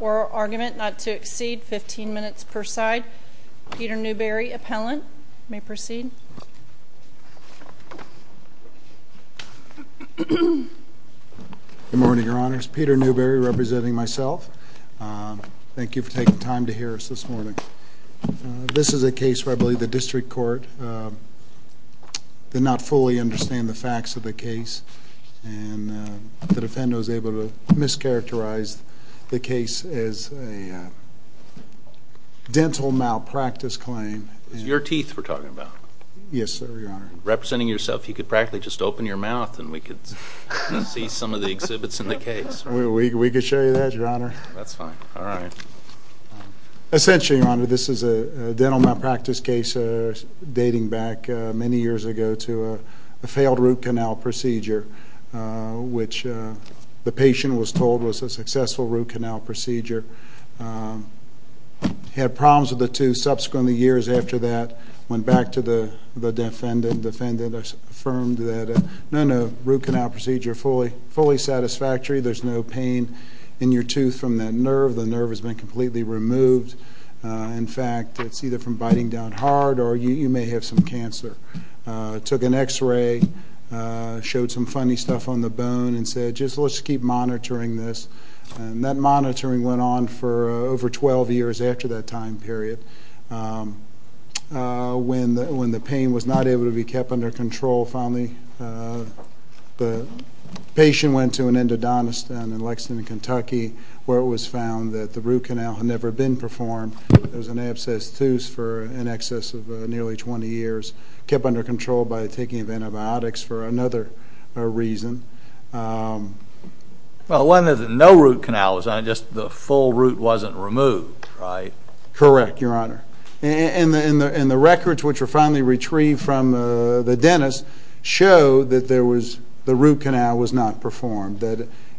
or argument not to exceed 15 minutes per side. Peter Newberry, appellant. You may proceed. Good morning, Your Honors. Peter Newberry, representing myself. Thank you for taking time to hear us this morning. This is a case where I believe the district court did not fully understand the facts of the case. And the defendant was able to mischaracterize the case as a dental malpractice claim. It's your teeth we're talking about. Yes, sir, Your Honor. Representing yourself, you could practically just open your mouth and we could see some of the exhibits in the case. We could show you that, Your Honor. That's fine. All right. Essentially, Your Honor, this is a dental malpractice case dating back many years ago to a failed root canal procedure, which the patient was told was a successful root canal procedure. Had problems with the tooth. Subsequently, years after that, went back to the defendant. The defendant affirmed that, no, no, root canal procedure, fully satisfactory. There's no pain in your tooth from that nerve. The nerve has been completely removed. In fact, it's either from biting down hard or you may have some cancer. Took an x-ray, showed some funny stuff on the bone, and said, just let's keep monitoring this. And that monitoring went on for over 12 years after that time period. When the pain was not able to be kept under control, finally the patient went to an endodontist in Lexington, Kentucky, where it was found that the root canal had never been performed. There was an abscessed tooth for in excess of nearly 20 years. Kept under control by taking antibiotics for another reason. Well, no root canal was on it, just the full root wasn't removed, right? Correct, Your Honor. And the records, which were finally retrieved from the dentist, show that the root canal was not performed.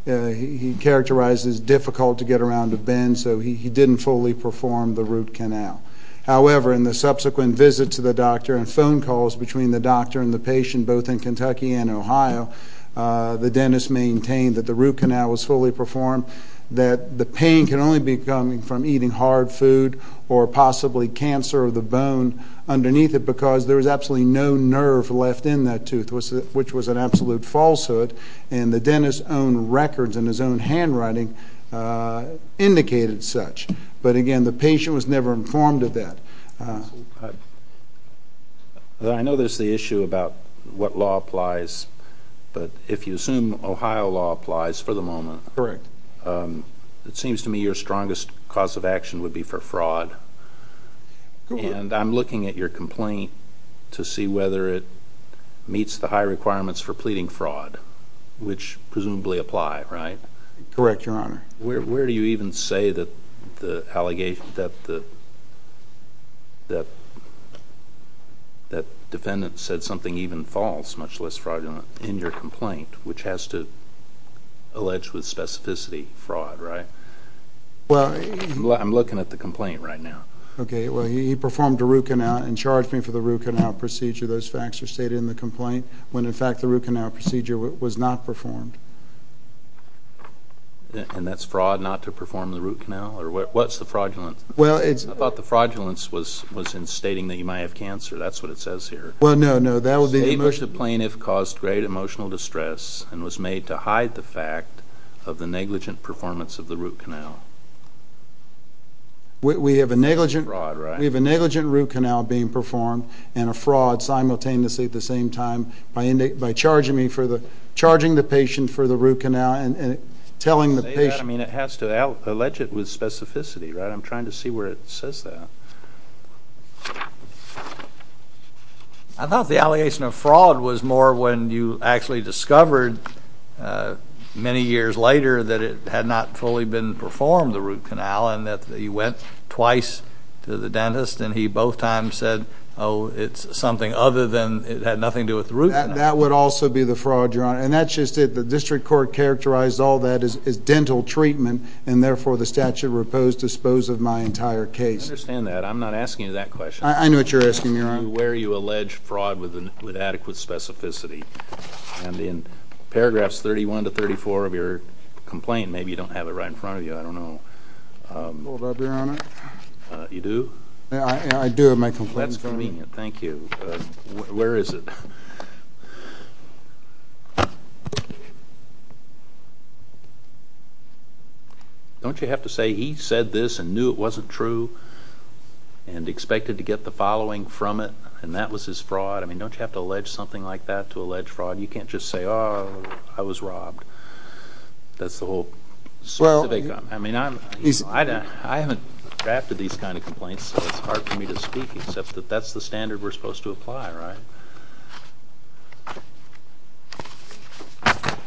He characterized it as difficult to get around a bend, so he didn't fully perform the root canal. However, in the subsequent visits to the doctor and phone calls between the doctor and the patient, both in Kentucky and Ohio, the dentist maintained that the root canal was fully performed, that the pain can only be coming from eating hard food or possibly cancer of the bone underneath it because there was absolutely no nerve left in that tooth, which was an absolute falsehood. And the dentist's own records and his own handwriting indicated such. But again, the patient was never informed of that. I know there's the issue about what law applies, but if you assume Ohio law applies for the fraud, and I'm looking at your complaint to see whether it meets the high requirements for pleading fraud, which presumably apply, right? Correct, Your Honor. Where do you even say that the defendant said something even false, much less fraudulent, in your complaint, which has to allege with specificity fraud, right? I'm looking at the complaint right now. Okay, well, he performed a root canal and charged me for the root canal procedure. Those facts are stated in the complaint, when in fact the root canal procedure was not performed. And that's fraud not to perform the root canal? What's the fraudulence? I thought the fraudulence was in stating that you might have cancer. That's what it says here. Well, no, no, that caused great emotional distress and was made to hide the fact of the negligent performance of the root canal. We have a negligent root canal being performed and a fraud simultaneously at the same time by charging me for the, charging the patient for the root canal and telling the patient. I mean, it has to allege it with specificity, right? I'm trying to see where it says that. I thought the allegation of fraud was more when you actually discovered many years later that it had not fully been performed, the root canal, and that he went twice to the dentist and he both times said, oh, it's something other than it had nothing to do with the root canal. That would also be the fraud, Your Honor. And that's just it. The district court characterized all that as dental treatment and therefore the statute repose dispose of my entire case. I understand that. I'm not asking you that question. I know what you're asking, Your Honor. Where you allege fraud with adequate specificity. And in paragraphs 31 to 34 of your complaint, maybe you don't have it right in front of you. I don't know. Hold up, Your Honor. You do? I do have my complaint. That's convenient. Thank you. Where is it? Don't you have to say he said this and knew it wasn't true and expected to get the following from it and that was his fraud? I mean, don't you have to allege something like that to allege fraud? You can't just say, oh, I was robbed. That's the whole specific. I mean, I haven't drafted these kind of complaints, so it's hard for me to speak, except that that's the standard we're supposed to apply, right?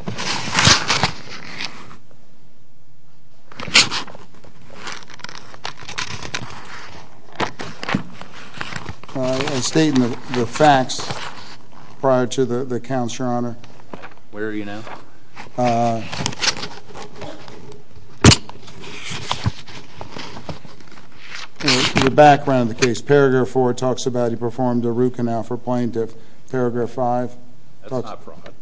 I state in the facts prior to the counts, Your Honor. Where are you now? The background of the case. Paragraph 4 talks about he performed a root canal for plaintiff. Paragraph 5? That's not fraud.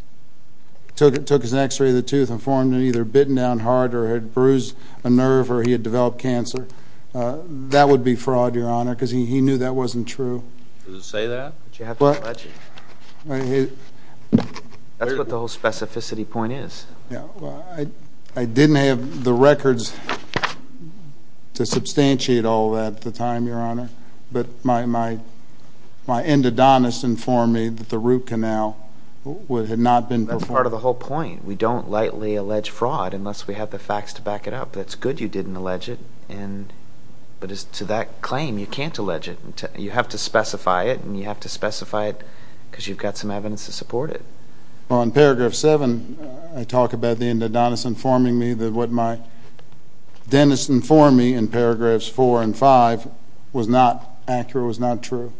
Took his x-ray of the tooth and formed it either bitten down hard or had bruised a nerve or he had developed cancer. That would be fraud, Your Honor, because he knew that wasn't true. Does it say that? But you have to allege it. That's what the whole specificity point is. I didn't have the records to substantiate all that at the time, Your Honor, but my endodontist informed me that the root canal had not been performed. That's part of the whole point. We don't lightly allege fraud unless we have the facts to back it up. That's good you didn't allege it, but to that claim, you can't allege it. You have to specify it and you have to specify it because you've got some evidence to support it. On paragraph 7, I talk about the endodontist informing me that what my dentist informed me in paragraphs 4 and 5 was not accurate, was not true.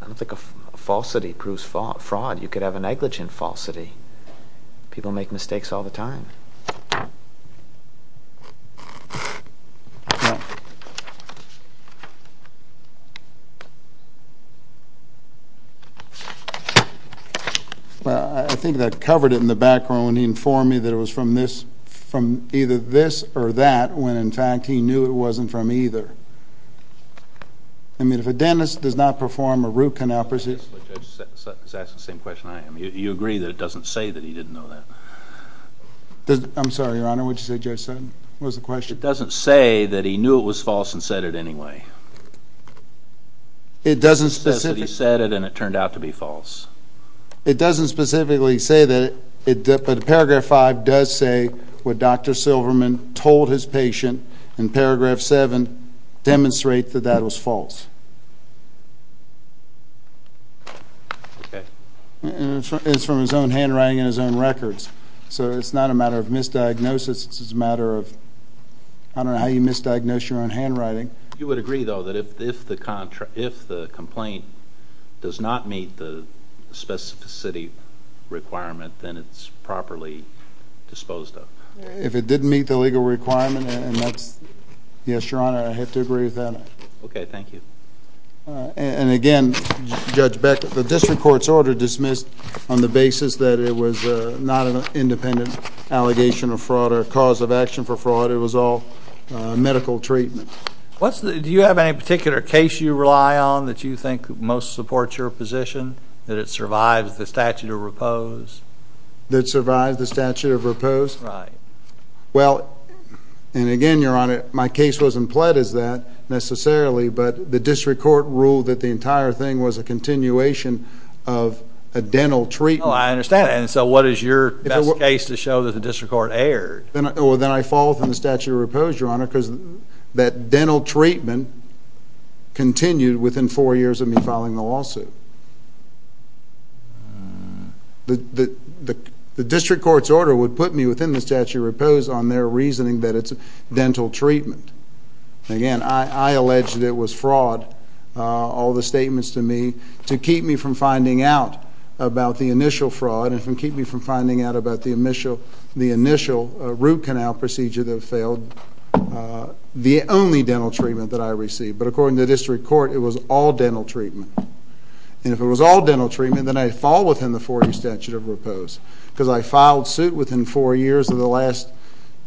I don't think a falsity proves fraud. You could have a negligent falsity. People make mistakes all the time. I think that covered it in the background when he informed me that it was from either this or that when, in fact, he knew it wasn't from either. I mean, if a dentist does not perform a root canal procedure... Judge Sutton is asking the same question I am. You agree that it doesn't say that he didn't know that? I'm sorry, Your Honor, what did you say, Judge Sutton? What was the question? It doesn't say that he knew it was false and said it anyway. It doesn't specifically... He says that he said it and it turned out to be false. It doesn't specifically say that it did, but paragraph 5 does say what Dr. Silverman told his patient in paragraph 7 demonstrate that that was false. It's from his own handwriting and his own records, so it's not a matter of misdiagnosis. It's a matter of... I don't know how you misdiagnose your own handwriting. You would agree, though, that if the complaint does not meet the specificity requirement, then it's properly disposed of? If it didn't meet the legal requirement, and that's... Yes, Your Honor, I have to agree with that. Okay, thank you. And again, Judge Beck, the district court's order dismissed on the basis that it was not an independent allegation of fraud or cause of action for fraud. It was all medical treatment. Do you have any particular case you rely on that you think most supports your position? That it survives the statute of repose? That it survives the statute of repose? Right. Well, and again, Your Honor, my case wasn't pled as that necessarily, but the district court ruled that the entire thing was a continuation of a dental treatment. Oh, I understand. And so what is your best case to show that the district court erred? Well, then I fall within the statute of repose, Your Honor, because that dental treatment continued within four years of me filing the lawsuit. The district court's order would put me within the statute of repose on their reasoning that it's dental treatment. Again, I allege that it was fraud, all the statements to me, to keep me from finding out about the initial fraud and to keep me from finding out about the initial root canal procedure that failed, the only dental treatment that I received. But according to the district court, it was all dental treatment. And if it was all dental treatment, then I fall within the 40 statute of repose because I filed suit within four years of the last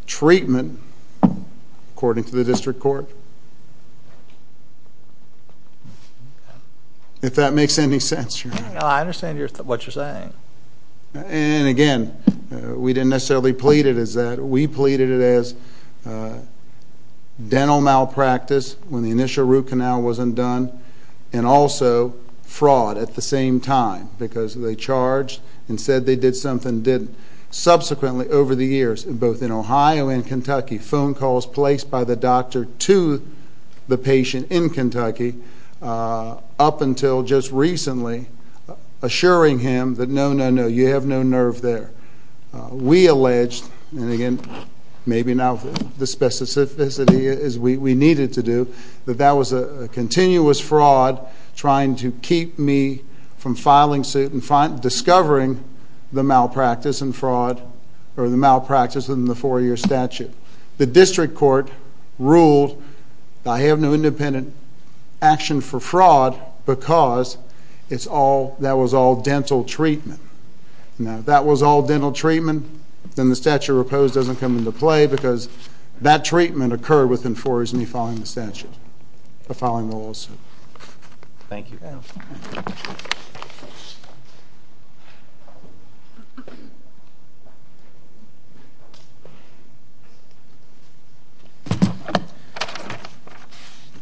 treatment, according to the district court, if that makes any sense, Your Honor. I understand what you're saying. And again, we didn't necessarily plead it as that. We pleaded it as dental malpractice when the initial root canal wasn't done and also fraud at the same time because they charged and said they did something they didn't. Subsequently, over the years, both in Ohio and Kentucky, phone calls placed by the doctor to the patient in Kentucky, up until just recently, assuring him that, no, no, no, you have no nerve there. We alleged, and again, maybe now the specificity is we needed to do, that that was a continuous fraud trying to keep me from filing suit and discovering the malpractice and fraud or the malpractice in the four-year statute. The district court ruled I have no independent action for fraud because that was all dental treatment. Now, if that was all dental treatment, then the statute of repose doesn't come into play because that treatment occurred within four years of me filing the lawsuit. Thank you.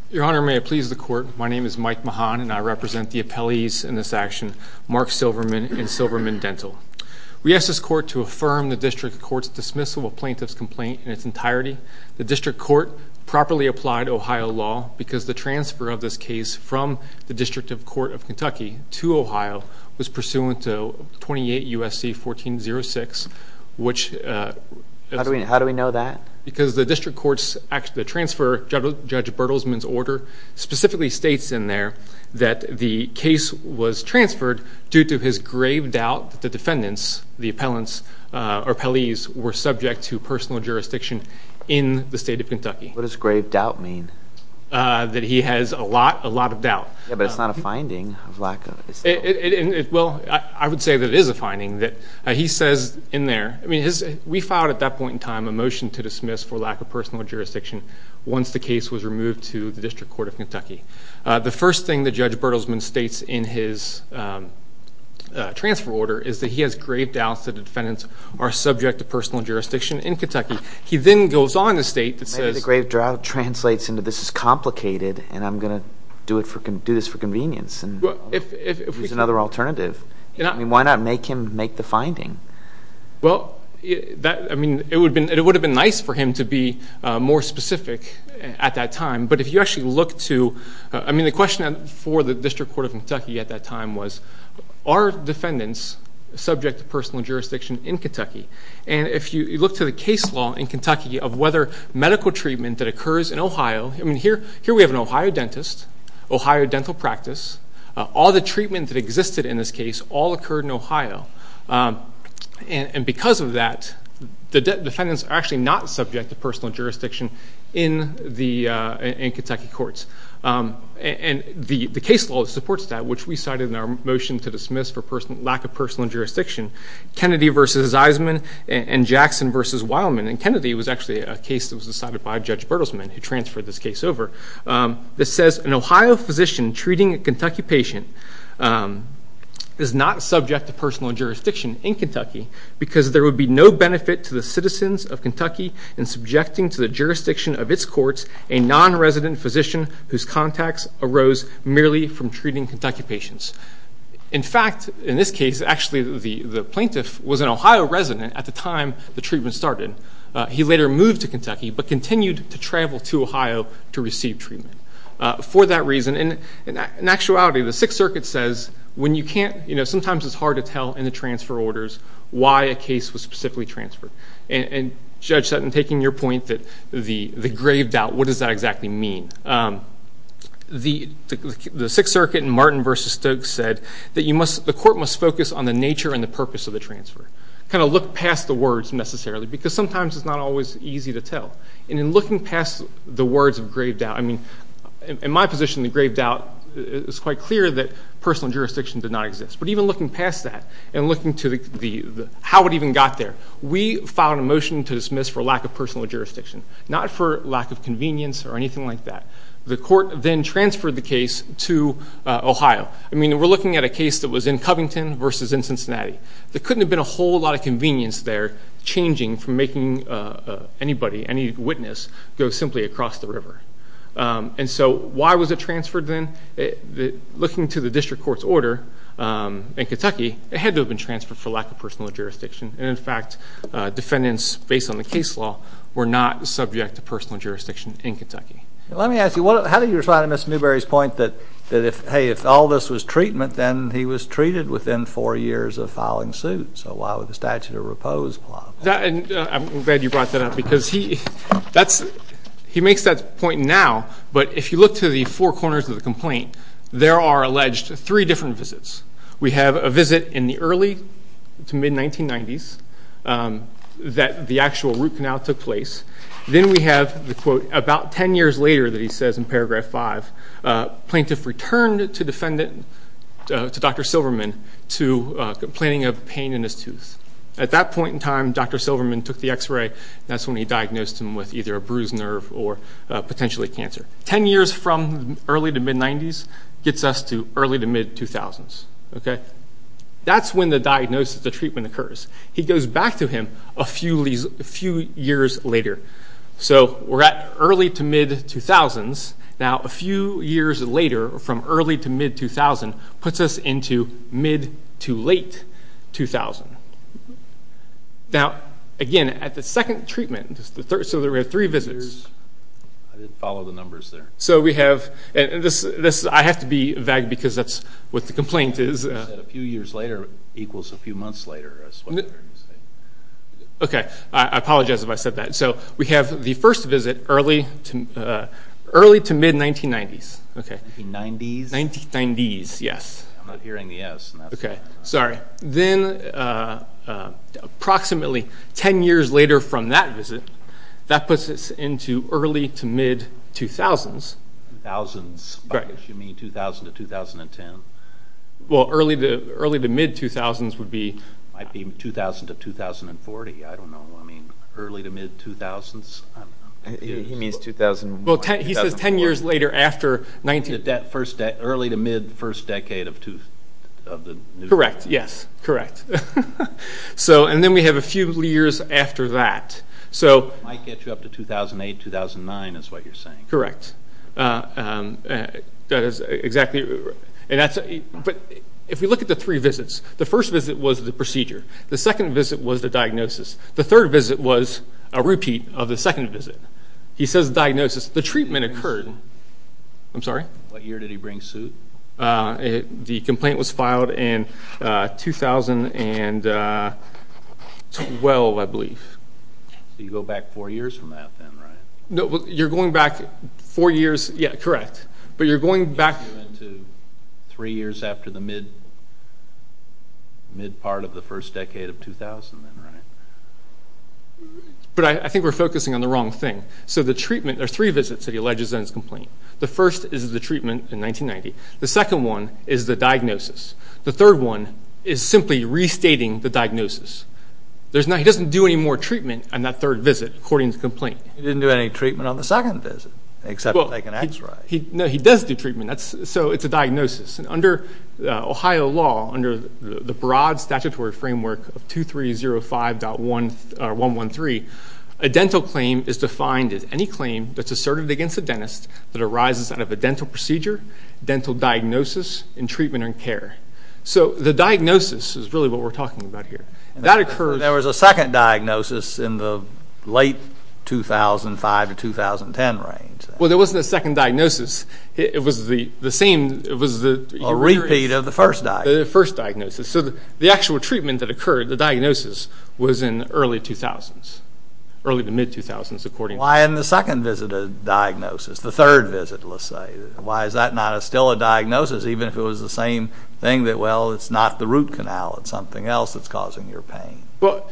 Your Honor, may it please the court, my name is Mike Mahan, and I represent the appellees in this action, Mark Silverman and Silverman Dental. We ask this court to affirm the district court's dismissal of plaintiff's complaint in its entirety. The district court properly applied Ohio law because the transfer of this case from the District of Court of Kentucky to Ohio was pursuant to 28 U.S.C. 1406, which- How do we know that? Because the district court's transfer, Judge Bertelsman's order, specifically states in there that the case was transferred due to his grave doubt that the defendants, the appellants or appellees, were subject to personal jurisdiction in the state of Kentucky. What does grave doubt mean? That he has a lot of doubt. Yeah, but it's not a finding of lack of- Well, I would say that it is a finding. He says in there, we filed at that point in time a motion to dismiss for lack of personal jurisdiction once the case was removed to the District Court of Kentucky. The first thing that Judge Bertelsman states in his transfer order is that he has grave doubts that the defendants are subject to personal jurisdiction in Kentucky. He then goes on to state that says- Maybe the grave doubt translates into this is complicated and I'm going to do this for convenience. It's another alternative. Why not make him make the finding? Well, it would have been nice for him to be more specific at that time, but if you actually look to- I mean, the question for the District Court of Kentucky at that time was, are defendants subject to personal jurisdiction in Kentucky? And if you look to the case law in Kentucky of whether medical treatment that occurs in Ohio- I mean, here we have an Ohio dentist, Ohio dental practice. All the treatment that existed in this case all occurred in Ohio. And because of that, the defendants are actually not subject to personal jurisdiction in Kentucky courts. And the case law supports that, which we cited in our motion to dismiss for lack of personal jurisdiction, Kennedy v. Zeisman and Jackson v. Weilman. And Kennedy was actually a case that was decided by Judge Bertelsman, who transferred this case over. This says, an Ohio physician treating a Kentucky patient is not subject to personal jurisdiction in Kentucky because there would be no benefit to the citizens of Kentucky in subjecting to the jurisdiction of its courts a non-resident physician whose contacts arose merely from treating Kentucky patients. In fact, in this case, actually the plaintiff was an Ohio resident at the time the treatment started. He later moved to Kentucky but continued to travel to Ohio to receive treatment. For that reason, in actuality, the Sixth Circuit says when you can't- sometimes it's hard to tell in the transfer orders why a case was specifically transferred. And Judge Sutton, taking your point that the grave doubt, what does that exactly mean? The Sixth Circuit in Martin v. Stokes said that you must- the court must focus on the nature and the purpose of the transfer. Kind of look past the words, necessarily, because sometimes it's not always easy to tell. And in looking past the words of grave doubt- I mean, in my position, the grave doubt is quite clear that personal jurisdiction did not exist. But even looking past that and looking to how it even got there, we filed a motion to dismiss for lack of personal jurisdiction, not for lack of convenience or anything like that. The court then transferred the case to Ohio. I mean, we're looking at a case that was in Covington versus in Cincinnati. There couldn't have been a whole lot of convenience there changing from making anybody, any witness, go simply across the river. And so why was it transferred then? Looking to the district court's order in Kentucky, it had to have been transferred for lack of personal jurisdiction. And, in fact, defendants, based on the case law, were not subject to personal jurisdiction in Kentucky. Let me ask you, how do you respond to Mr. Newberry's point that, hey, if all this was treatment, then he was treated within four years of filing suit. So why would the statute of repose apply? I'm glad you brought that up because he makes that point now. But if you look to the four corners of the complaint, there are alleged three different visits. We have a visit in the early to mid-1990s that the actual root canal took place. Then we have the quote about 10 years later that he says in paragraph 5, plaintiff returned to defendant, to Dr. Silverman, to complaining of pain in his tooth. At that point in time, Dr. Silverman took the X-ray, and that's when he diagnosed him with either a bruised nerve or potentially cancer. 10 years from early to mid-1990s gets us to early to mid-2000s. That's when the diagnosis, the treatment, occurs. He goes back to him a few years later. So we're at early to mid-2000s. Now, a few years later, from early to mid-2000, puts us into mid to late-2000. Now, again, at the second treatment, so there were three visits. I didn't follow the numbers there. I have to be vague because that's what the complaint is. You said a few years later equals a few months later. I apologize if I said that. We have the first visit early to mid-1990s. 1990s? 1990s, yes. I'm not hearing the S. Sorry. Then approximately 10 years later from that visit, that puts us into early to mid-2000s. Thousands? Right. You mean 2000 to 2010? Well, early to mid-2000s would be... Might be 2000 to 2040. I don't know. I mean early to mid-2000s? He means 2001, 2004. Well, he says 10 years later after... Early to mid-first decade of the... Correct, yes, correct. Then we have a few years after that. Might get you up to 2008, 2009 is what you're saying. Correct. If we look at the three visits, the first visit was the procedure. The second visit was the diagnosis. The third visit was a repeat of the second visit. He says diagnosis. The treatment occurred. I'm sorry? What year did he bring suit? The complaint was filed in 2012, I believe. So you go back four years from that then, right? No, you're going back four years... Yeah, correct. But you're going back... Three years after the mid part of the first decade of 2000 then, right? But I think we're focusing on the wrong thing. So the treatment... There are three visits that he alleges in his complaint. The first is the treatment in 1990. The second one is the diagnosis. The third one is simply restating the diagnosis. He doesn't do any more treatment on that third visit, according to the complaint. He didn't do any treatment on the second visit, except take an X-ray. No, he does do treatment, so it's a diagnosis. Under Ohio law, under the broad statutory framework of 2305.113, a dental claim is defined as any claim that's asserted against a dentist that arises out of a dental procedure, dental diagnosis, and treatment or care. So the diagnosis is really what we're talking about here. There was a second diagnosis in the late 2005 to 2010 range. Well, there wasn't a second diagnosis. It was the same... A repeat of the first diagnosis. The first diagnosis. So the actual treatment that occurred, the diagnosis, was in the early 2000s, early to mid-2000s, according... Why in the second visit a diagnosis, the third visit, let's say? Why is that not still a diagnosis, even if it was the same thing that, well, it's not the root canal, it's something else that's causing your pain? Well,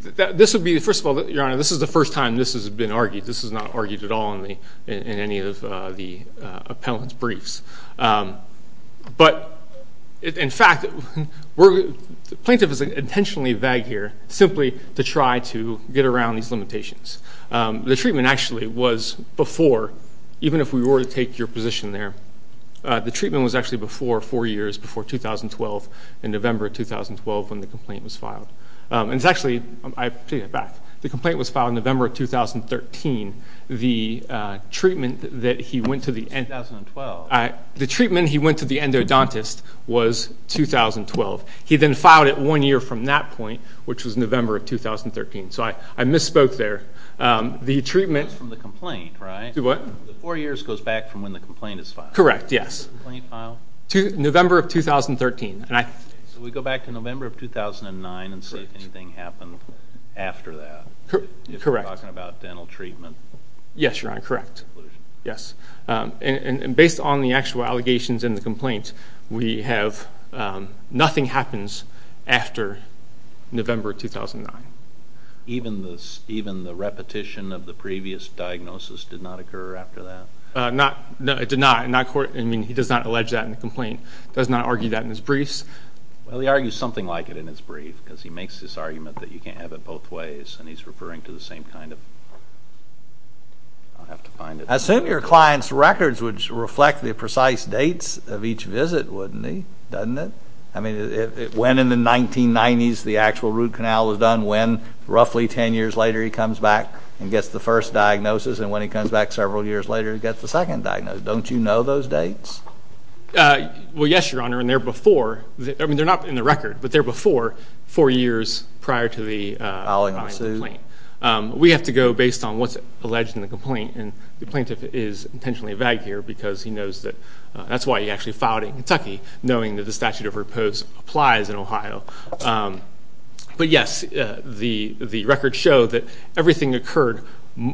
this would be the first of all... Your Honor, this is the first time this has been argued. This is not argued at all in any of the appellant's briefs. But, in fact, the plaintiff is intentionally vague here simply to try to get around these limitations. The treatment actually was before, even if we were to take your position there, the treatment was actually before four years, before 2012, in November 2012 when the complaint was filed. And it's actually... I'm taking it back. The complaint was filed in November 2013. The treatment that he went to the end... The treatment he went to the endodontist was 2012. He then filed it one year from that point, which was November of 2013. So I misspoke there. The treatment... That's from the complaint, right? The what? The four years goes back from when the complaint is filed. Correct, yes. The complaint filed? November of 2013. So we go back to November of 2009 and see if anything happened after that. Correct. You're talking about dental treatment. Yes, Your Honor, correct. Yes. And based on the actual allegations in the complaint, we have nothing happens after November 2009. Even the repetition of the previous diagnosis did not occur after that? No, it did not. He does not allege that in the complaint. He does not argue that in his briefs. Well, he argues something like it in his brief because he makes this argument that you can't have it both ways, and he's referring to the same kind of... Your client's records would reflect the precise dates of each visit, wouldn't they? Doesn't it? I mean, when in the 1990s the actual root canal was done, when roughly ten years later he comes back and gets the first diagnosis, and when he comes back several years later he gets the second diagnosis. Don't you know those dates? Well, yes, Your Honor, and they're before... I mean, they're not in the record, but they're before four years prior to the filing of the complaint. We have to go based on what's alleged in the complaint, and the plaintiff is intentionally vague here because he knows that that's why he actually filed in Kentucky, knowing that the statute of repose applies in Ohio. But, yes, the records show that everything occurred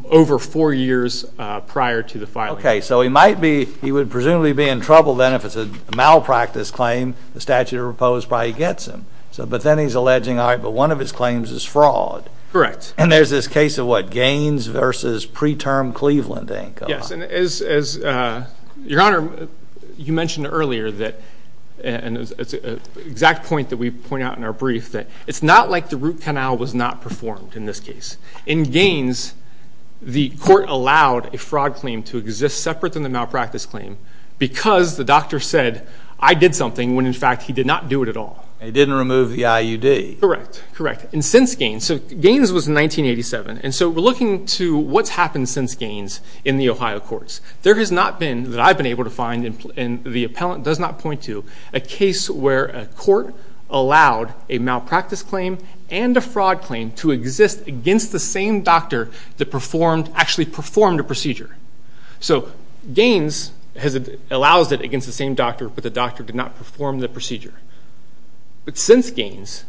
over four years prior to the filing. Okay, so he might be... He would presumably be in trouble then if it's a malpractice claim. The statute of repose probably gets him. But then he's alleging, all right, but one of his claims is fraud. Correct. And there's this case of, what, Gaines versus preterm Cleveland, I think. Yes, and as Your Honor, you mentioned earlier that, and it's an exact point that we point out in our brief, that it's not like the root canal was not performed in this case. In Gaines, the court allowed a fraud claim to exist separate from the malpractice claim because the doctor said, I did something, when in fact he did not do it at all. He didn't remove the IUD. Correct, correct. And since Gaines, so Gaines was in 1987, and so we're looking to what's happened since Gaines in the Ohio courts. There has not been, that I've been able to find, and the appellant does not point to, a case where a court allowed a malpractice claim and a fraud claim to exist against the same doctor that actually performed a procedure. So Gaines allows it against the same doctor, but the doctor did not perform the procedure. But since Gaines,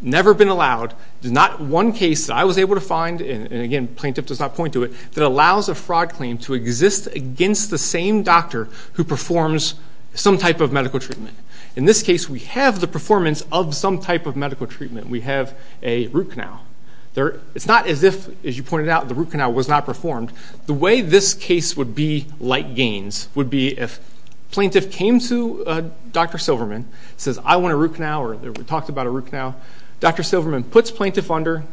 never been allowed, there's not one case that I was able to find, and again plaintiff does not point to it, that allows a fraud claim to exist against the same doctor who performs some type of medical treatment. In this case, we have the performance of some type of medical treatment. We have a root canal. It's not as if, as you pointed out, the root canal was not performed. The way this case would be like Gaines would be if plaintiff came to Dr. Silverman, and says, I want a root canal, or we talked about a root canal. Dr. Silverman puts plaintiff under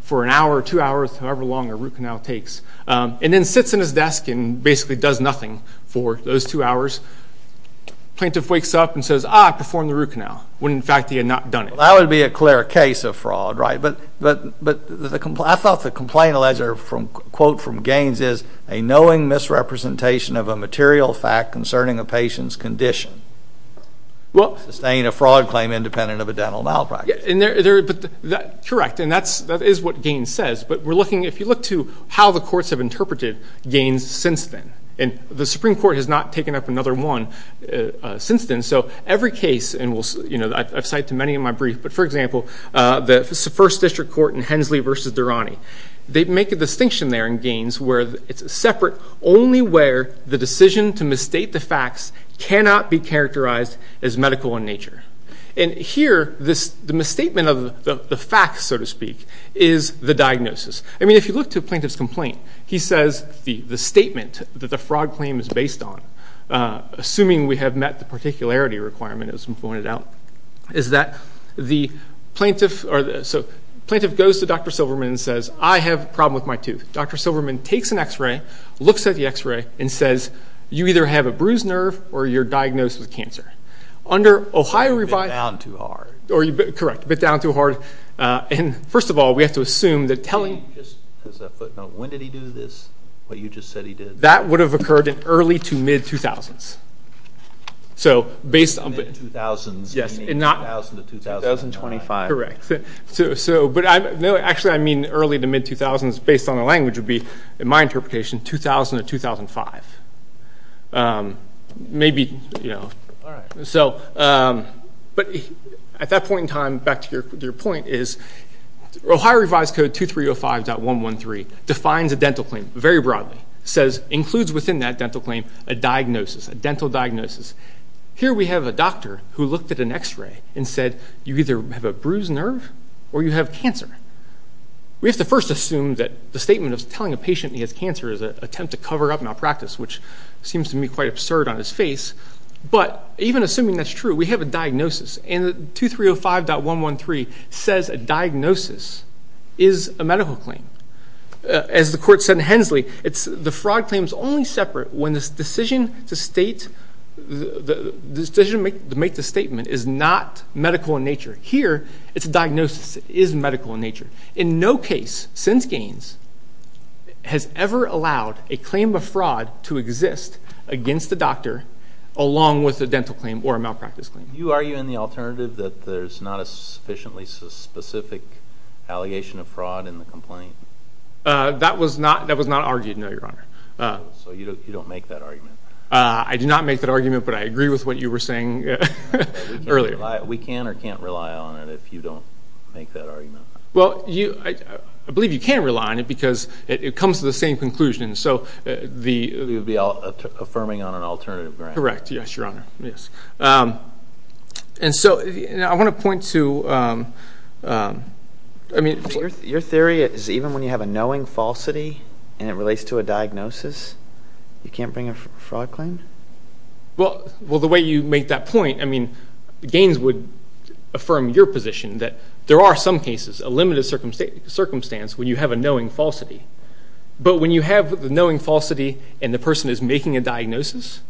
for an hour or two hours, however long a root canal takes, and then sits in his desk and basically does nothing for those two hours. Plaintiff wakes up and says, ah, I performed the root canal, when in fact he had not done it. That would be a clear case of fraud, right? But I thought the complaint alleged from, quote from Gaines is, a knowing misrepresentation of a material fact concerning a patient's condition. Sustained a fraud claim independent of a dental malpractice. Correct, and that is what Gaines says, but if you look to how the courts have interpreted Gaines since then, and the Supreme Court has not taken up another one since then, so every case, and I've cited many in my brief, but for example, the first district court in Hensley v. Durrani, they make a distinction there in Gaines where it's separate, only where the decision to misstate the facts cannot be characterized as medical in nature. And here, the misstatement of the facts, so to speak, is the diagnosis. I mean, if you look to a plaintiff's complaint, he says the statement that the fraud claim is based on, assuming we have met the particularity requirement as pointed out, is that the plaintiff goes to Dr. Silverman and says, I have a problem with my tooth. Dr. Silverman takes an x-ray, looks at the x-ray, and says, you either have a bruised nerve or you're diagnosed with cancer. So you bit down too hard. Correct, you bit down too hard. And first of all, we have to assume that telling— Just as a footnote, when did he do this, what you just said he did? That would have occurred in early to mid-2000s. Early to mid-2000s, meaning 2000 to 2005. Correct. Actually, I mean early to mid-2000s based on the language would be, in my interpretation, 2000 to 2005. Maybe, you know. All right. But at that point in time, back to your point, is Ohio Revised Code 2305.113 defines a dental claim very broadly. It says, includes within that dental claim a diagnosis, a dental diagnosis. Here we have a doctor who looked at an x-ray and said, you either have a bruised nerve or you have cancer. We have to first assume that the statement of telling a patient he has cancer is an attempt to cover up malpractice, which seems to me quite absurd on his face. But even assuming that's true, we have a diagnosis. And 2305.113 says a diagnosis is a medical claim. As the court said in Hensley, the fraud claim is only separate when the decision to make the statement is not medical in nature. Here, it's a diagnosis. It is medical in nature. In no case since Gaines has ever allowed a claim of fraud to exist against the doctor along with a dental claim or a malpractice claim. Do you argue in the alternative that there's not a sufficiently specific allegation of fraud in the complaint? That was not argued, no, Your Honor. So you don't make that argument? I do not make that argument, but I agree with what you were saying earlier. We can or can't rely on it if you don't make that argument? Well, I believe you can rely on it because it comes to the same conclusion. So you'd be affirming on an alternative grant? Correct, yes, Your Honor. And so I want to point to, I mean. Your theory is even when you have a knowing falsity and it relates to a diagnosis, you can't bring a fraud claim? Well, the way you make that point, I mean, Gaines would affirm your position that there are some cases, a limited circumstance when you have a knowing falsity. But when you have the knowing falsity and the person is making a diagnosis,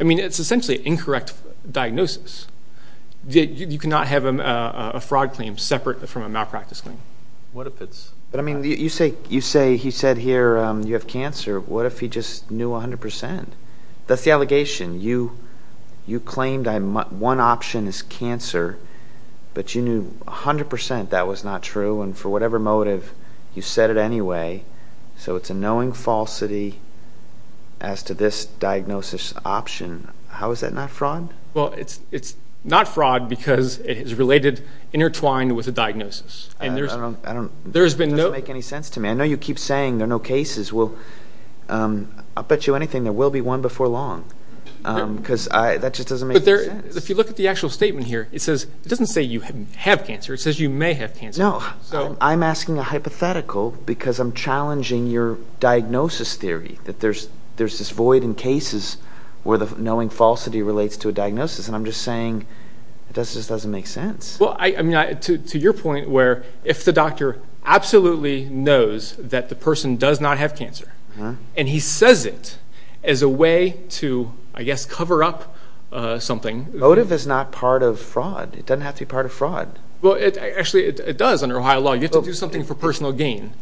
I mean, it's essentially an incorrect diagnosis. You cannot have a fraud claim separate from a malpractice claim. But, I mean, you say he said here you have cancer. What if he just knew 100 percent? That's the allegation. You claimed one option is cancer, but you knew 100 percent that was not true, and for whatever motive you said it anyway. So it's a knowing falsity as to this diagnosis option. How is that not fraud? Well, it's not fraud because it is related, intertwined with a diagnosis. It doesn't make any sense to me. I know you keep saying there are no cases. Well, I'll bet you anything there will be one before long because that just doesn't make any sense. But if you look at the actual statement here, it doesn't say you have cancer. It says you may have cancer. No, I'm asking a hypothetical because I'm challenging your diagnosis theory that there's this void in cases where the knowing falsity relates to a diagnosis, and I'm just saying it just doesn't make sense. Well, I mean, to your point where if the doctor absolutely knows that the person does not have cancer and he says it as a way to, I guess, cover up something. Motive is not part of fraud. It doesn't have to be part of fraud. Well, actually, it does under Ohio law. You have to do something for personal gain.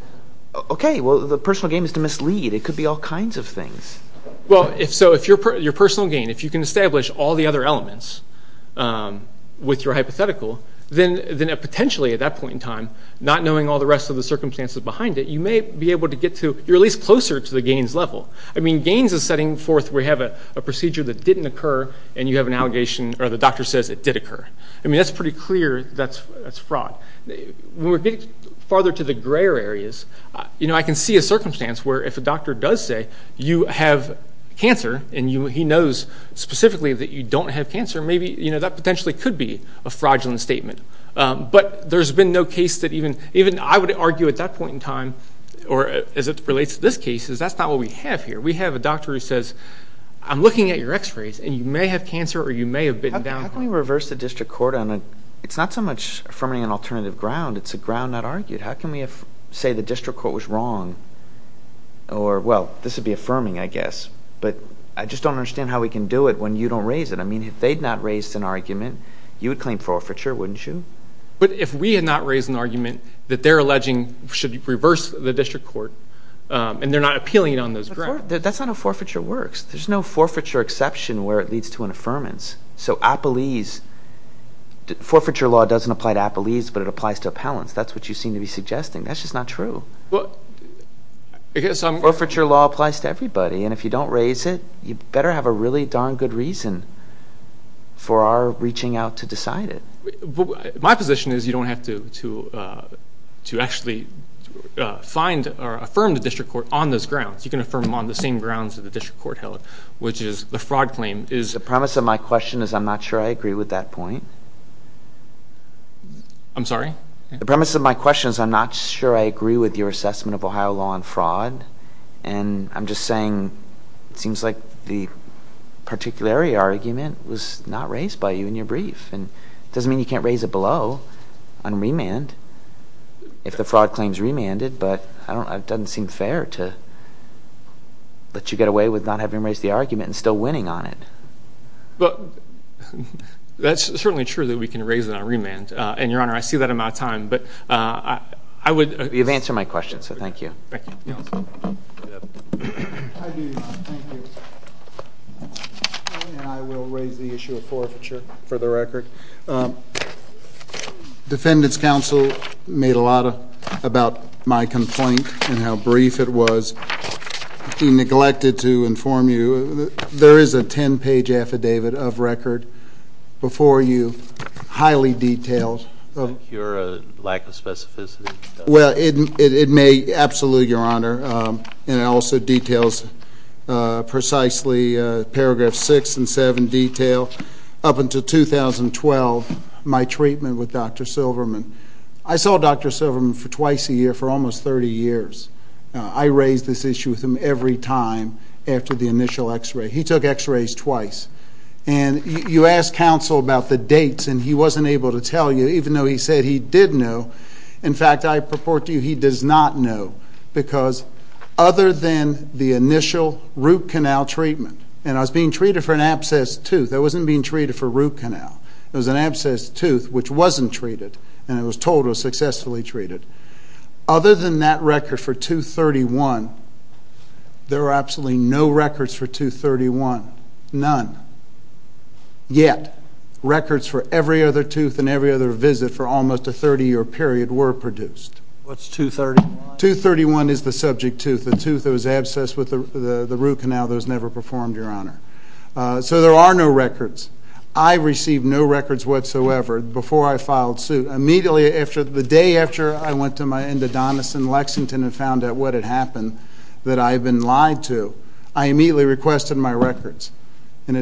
Okay. Well, the personal gain is to mislead. It could be all kinds of things. Well, if so, your personal gain, if you can establish all the other elements with your hypothetical, then potentially at that point in time, not knowing all the rest of the circumstances behind it, you may be able to get to, you're at least closer to the gains level. I mean, gains is setting forth where you have a procedure that didn't occur and you have an allegation or the doctor says it did occur. I mean, that's pretty clear that's fraud. When we're getting farther to the grayer areas, you know, I can see a circumstance where if a doctor does say you have cancer and he knows specifically that you don't have cancer, maybe that potentially could be a fraudulent statement. But there's been no case that even I would argue at that point in time, or as it relates to this case, is that's not what we have here. We have a doctor who says, I'm looking at your x-rays and you may have cancer or you may have been down. How can we reverse the district court? It's not so much affirming an alternative ground. It's a ground not argued. How can we say the district court was wrong or, well, this would be affirming, I guess, but I just don't understand how we can do it when you don't raise it. I mean, if they had not raised an argument, you would claim forfeiture, wouldn't you? But if we had not raised an argument that they're alleging should reverse the district court and they're not appealing it on those grounds. That's not how forfeiture works. There's no forfeiture exception where it leads to an affirmance. So appellees, forfeiture law doesn't apply to appellees, but it applies to appellants. That's what you seem to be suggesting. That's just not true. Forfeiture law applies to everybody, and if you don't raise it, you better have a really darn good reason for our reaching out to decide it. My position is you don't have to actually find or affirm the district court on those grounds. You can affirm them on the same grounds that the district court held, which is the fraud claim is... The premise of my question is I'm not sure I agree with that point. I'm sorry? The premise of my question is I'm not sure I agree with your assessment of Ohio law on fraud, and I'm just saying it seems like the particularity argument was not raised by you in your brief. It doesn't mean you can't raise it below on remand if the fraud claim is remanded, but it doesn't seem fair to let you get away with not having raised the argument and still winning on it. But that's certainly true that we can raise it on remand. And, Your Honor, I see that I'm out of time, but I would... You've answered my question, so thank you. Thank you. I do, Your Honor. Thank you. And I will raise the issue of forfeiture for the record. Defendant's counsel made a lot about my complaint and how brief it was. He neglected to inform you. There is a 10-page affidavit of record before you, highly detailed. Is that your lack of specificity? Well, it may... Absolutely, Your Honor. And it also details precisely paragraph 6 and 7 detail. Up until 2012, my treatment with Dr. Silverman. I saw Dr. Silverman twice a year for almost 30 years. I raised this issue with him every time after the initial x-ray. He took x-rays twice. And you asked counsel about the dates, and he wasn't able to tell you, even though he said he did know. In fact, I purport to you he does not know, because other than the initial root canal treatment, and I was being treated for an abscessed tooth. I wasn't being treated for root canal. It was an abscessed tooth which wasn't treated, and it was told it was successfully treated. Other than that record for 231, there are absolutely no records for 231, none. Yet records for every other tooth and every other visit for almost a 30-year period were produced. What's 231? 231 is the subject tooth, the tooth that was abscessed with the root canal and now those never performed, Your Honor. So there are no records. I received no records whatsoever before I filed suit. Immediately the day after I went to my endodontist in Lexington and found out what had happened that I had been lied to, I immediately requested my records. And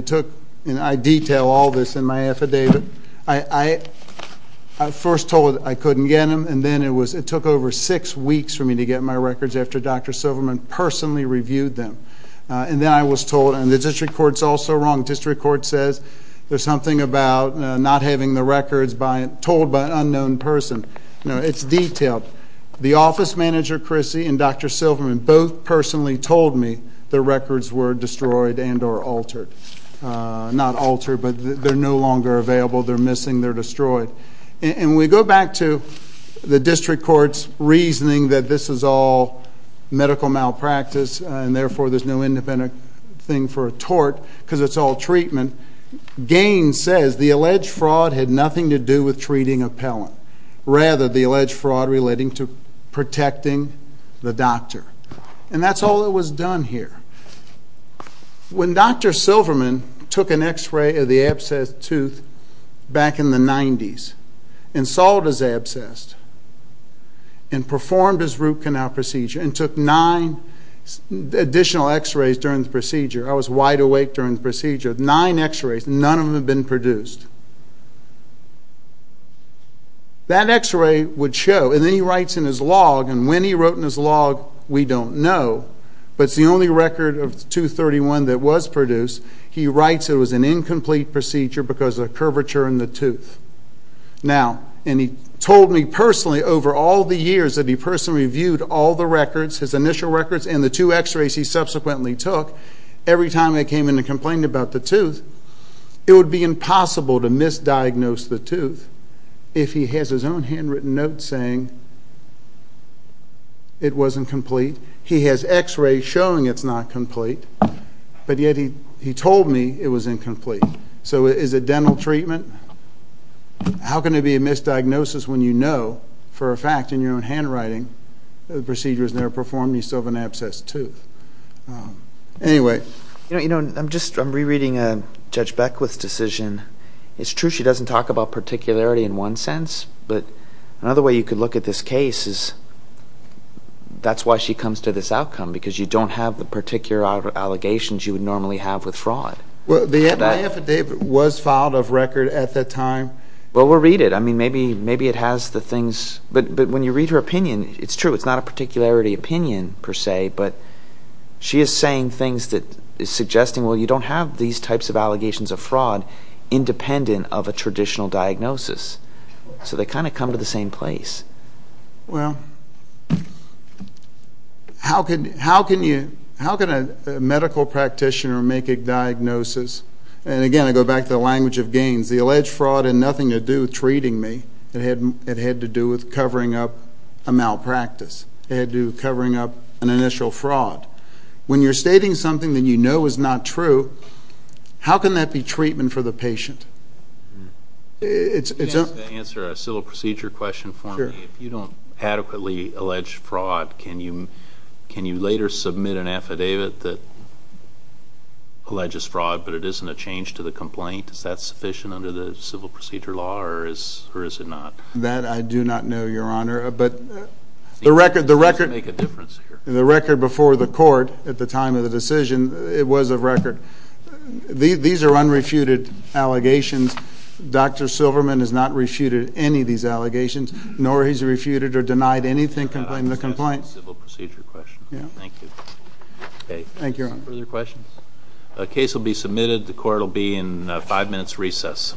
I detail all this in my affidavit. I first told them I couldn't get them, and then it took over six weeks for me to get my records after Dr. Silverman personally reviewed them. And then I was told, and the district court is also wrong. The district court says there's something about not having the records told by an unknown person. It's detailed. The office manager, Chrissy, and Dr. Silverman both personally told me the records were destroyed and or altered. Not altered, but they're no longer available. They're missing. They're destroyed. And we go back to the district court's reasoning that this is all medical malpractice and therefore there's no independent thing for a tort because it's all treatment. Gaines says the alleged fraud had nothing to do with treating a pellant, rather the alleged fraud relating to protecting the doctor. And that's all that was done here. When Dr. Silverman took an X-ray of the abscessed tooth back in the 90s and solved his abscess and performed his root canal procedure and took nine additional X-rays during the procedure. I was wide awake during the procedure. Nine X-rays, none of them had been produced. That X-ray would show, and then he writes in his log, and when he wrote in his log, we don't know, but it's the only record of tooth 31 that was produced. He writes it was an incomplete procedure because of a curvature in the tooth. Now, and he told me personally over all the years that he personally reviewed all the records, his initial records, and the two X-rays he subsequently took, every time I came in and complained about the tooth, it would be impossible to misdiagnose the tooth if he has his own handwritten note saying it wasn't complete. He has X-rays showing it's not complete, but yet he told me it was incomplete. So is it dental treatment? How can it be a misdiagnosis when you know for a fact in your own handwriting the procedure was never performed and you still have an abscessed tooth? Anyway. You know, I'm just rereading Judge Beckwith's decision. It's true she doesn't talk about particularity in one sense, but another way you could look at this case is that's why she comes to this outcome because you don't have the particular allegations you would normally have with fraud. Well, the FDA was filed a record at that time. Well, we'll read it. I mean, maybe it has the things, but when you read her opinion, it's true. It's not a particularity opinion per se, but she is saying things that is suggesting, well, you don't have these types of allegations of fraud independent of a traditional diagnosis. So they kind of come to the same place. Well, how can a medical practitioner make a diagnosis? And again, I go back to the language of gains. The alleged fraud had nothing to do with treating me. It had to do with covering up a malpractice. It had to do with covering up an initial fraud. When you're stating something that you know is not true, how can that be treatment for the patient? To answer a civil procedure question for me, if you don't adequately allege fraud, can you later submit an affidavit that alleges fraud but it isn't a change to the complaint? Is that sufficient under the civil procedure law or is it not? That I do not know, Your Honor. But the record before the court at the time of the decision, it was a record. These are unrefuted allegations. Dr. Silverman has not refuted any of these allegations, nor has he refuted or denied anything in the complaint. That's a civil procedure question. Thank you. Thank you, Your Honor. Further questions? The court will be in five minutes' recess.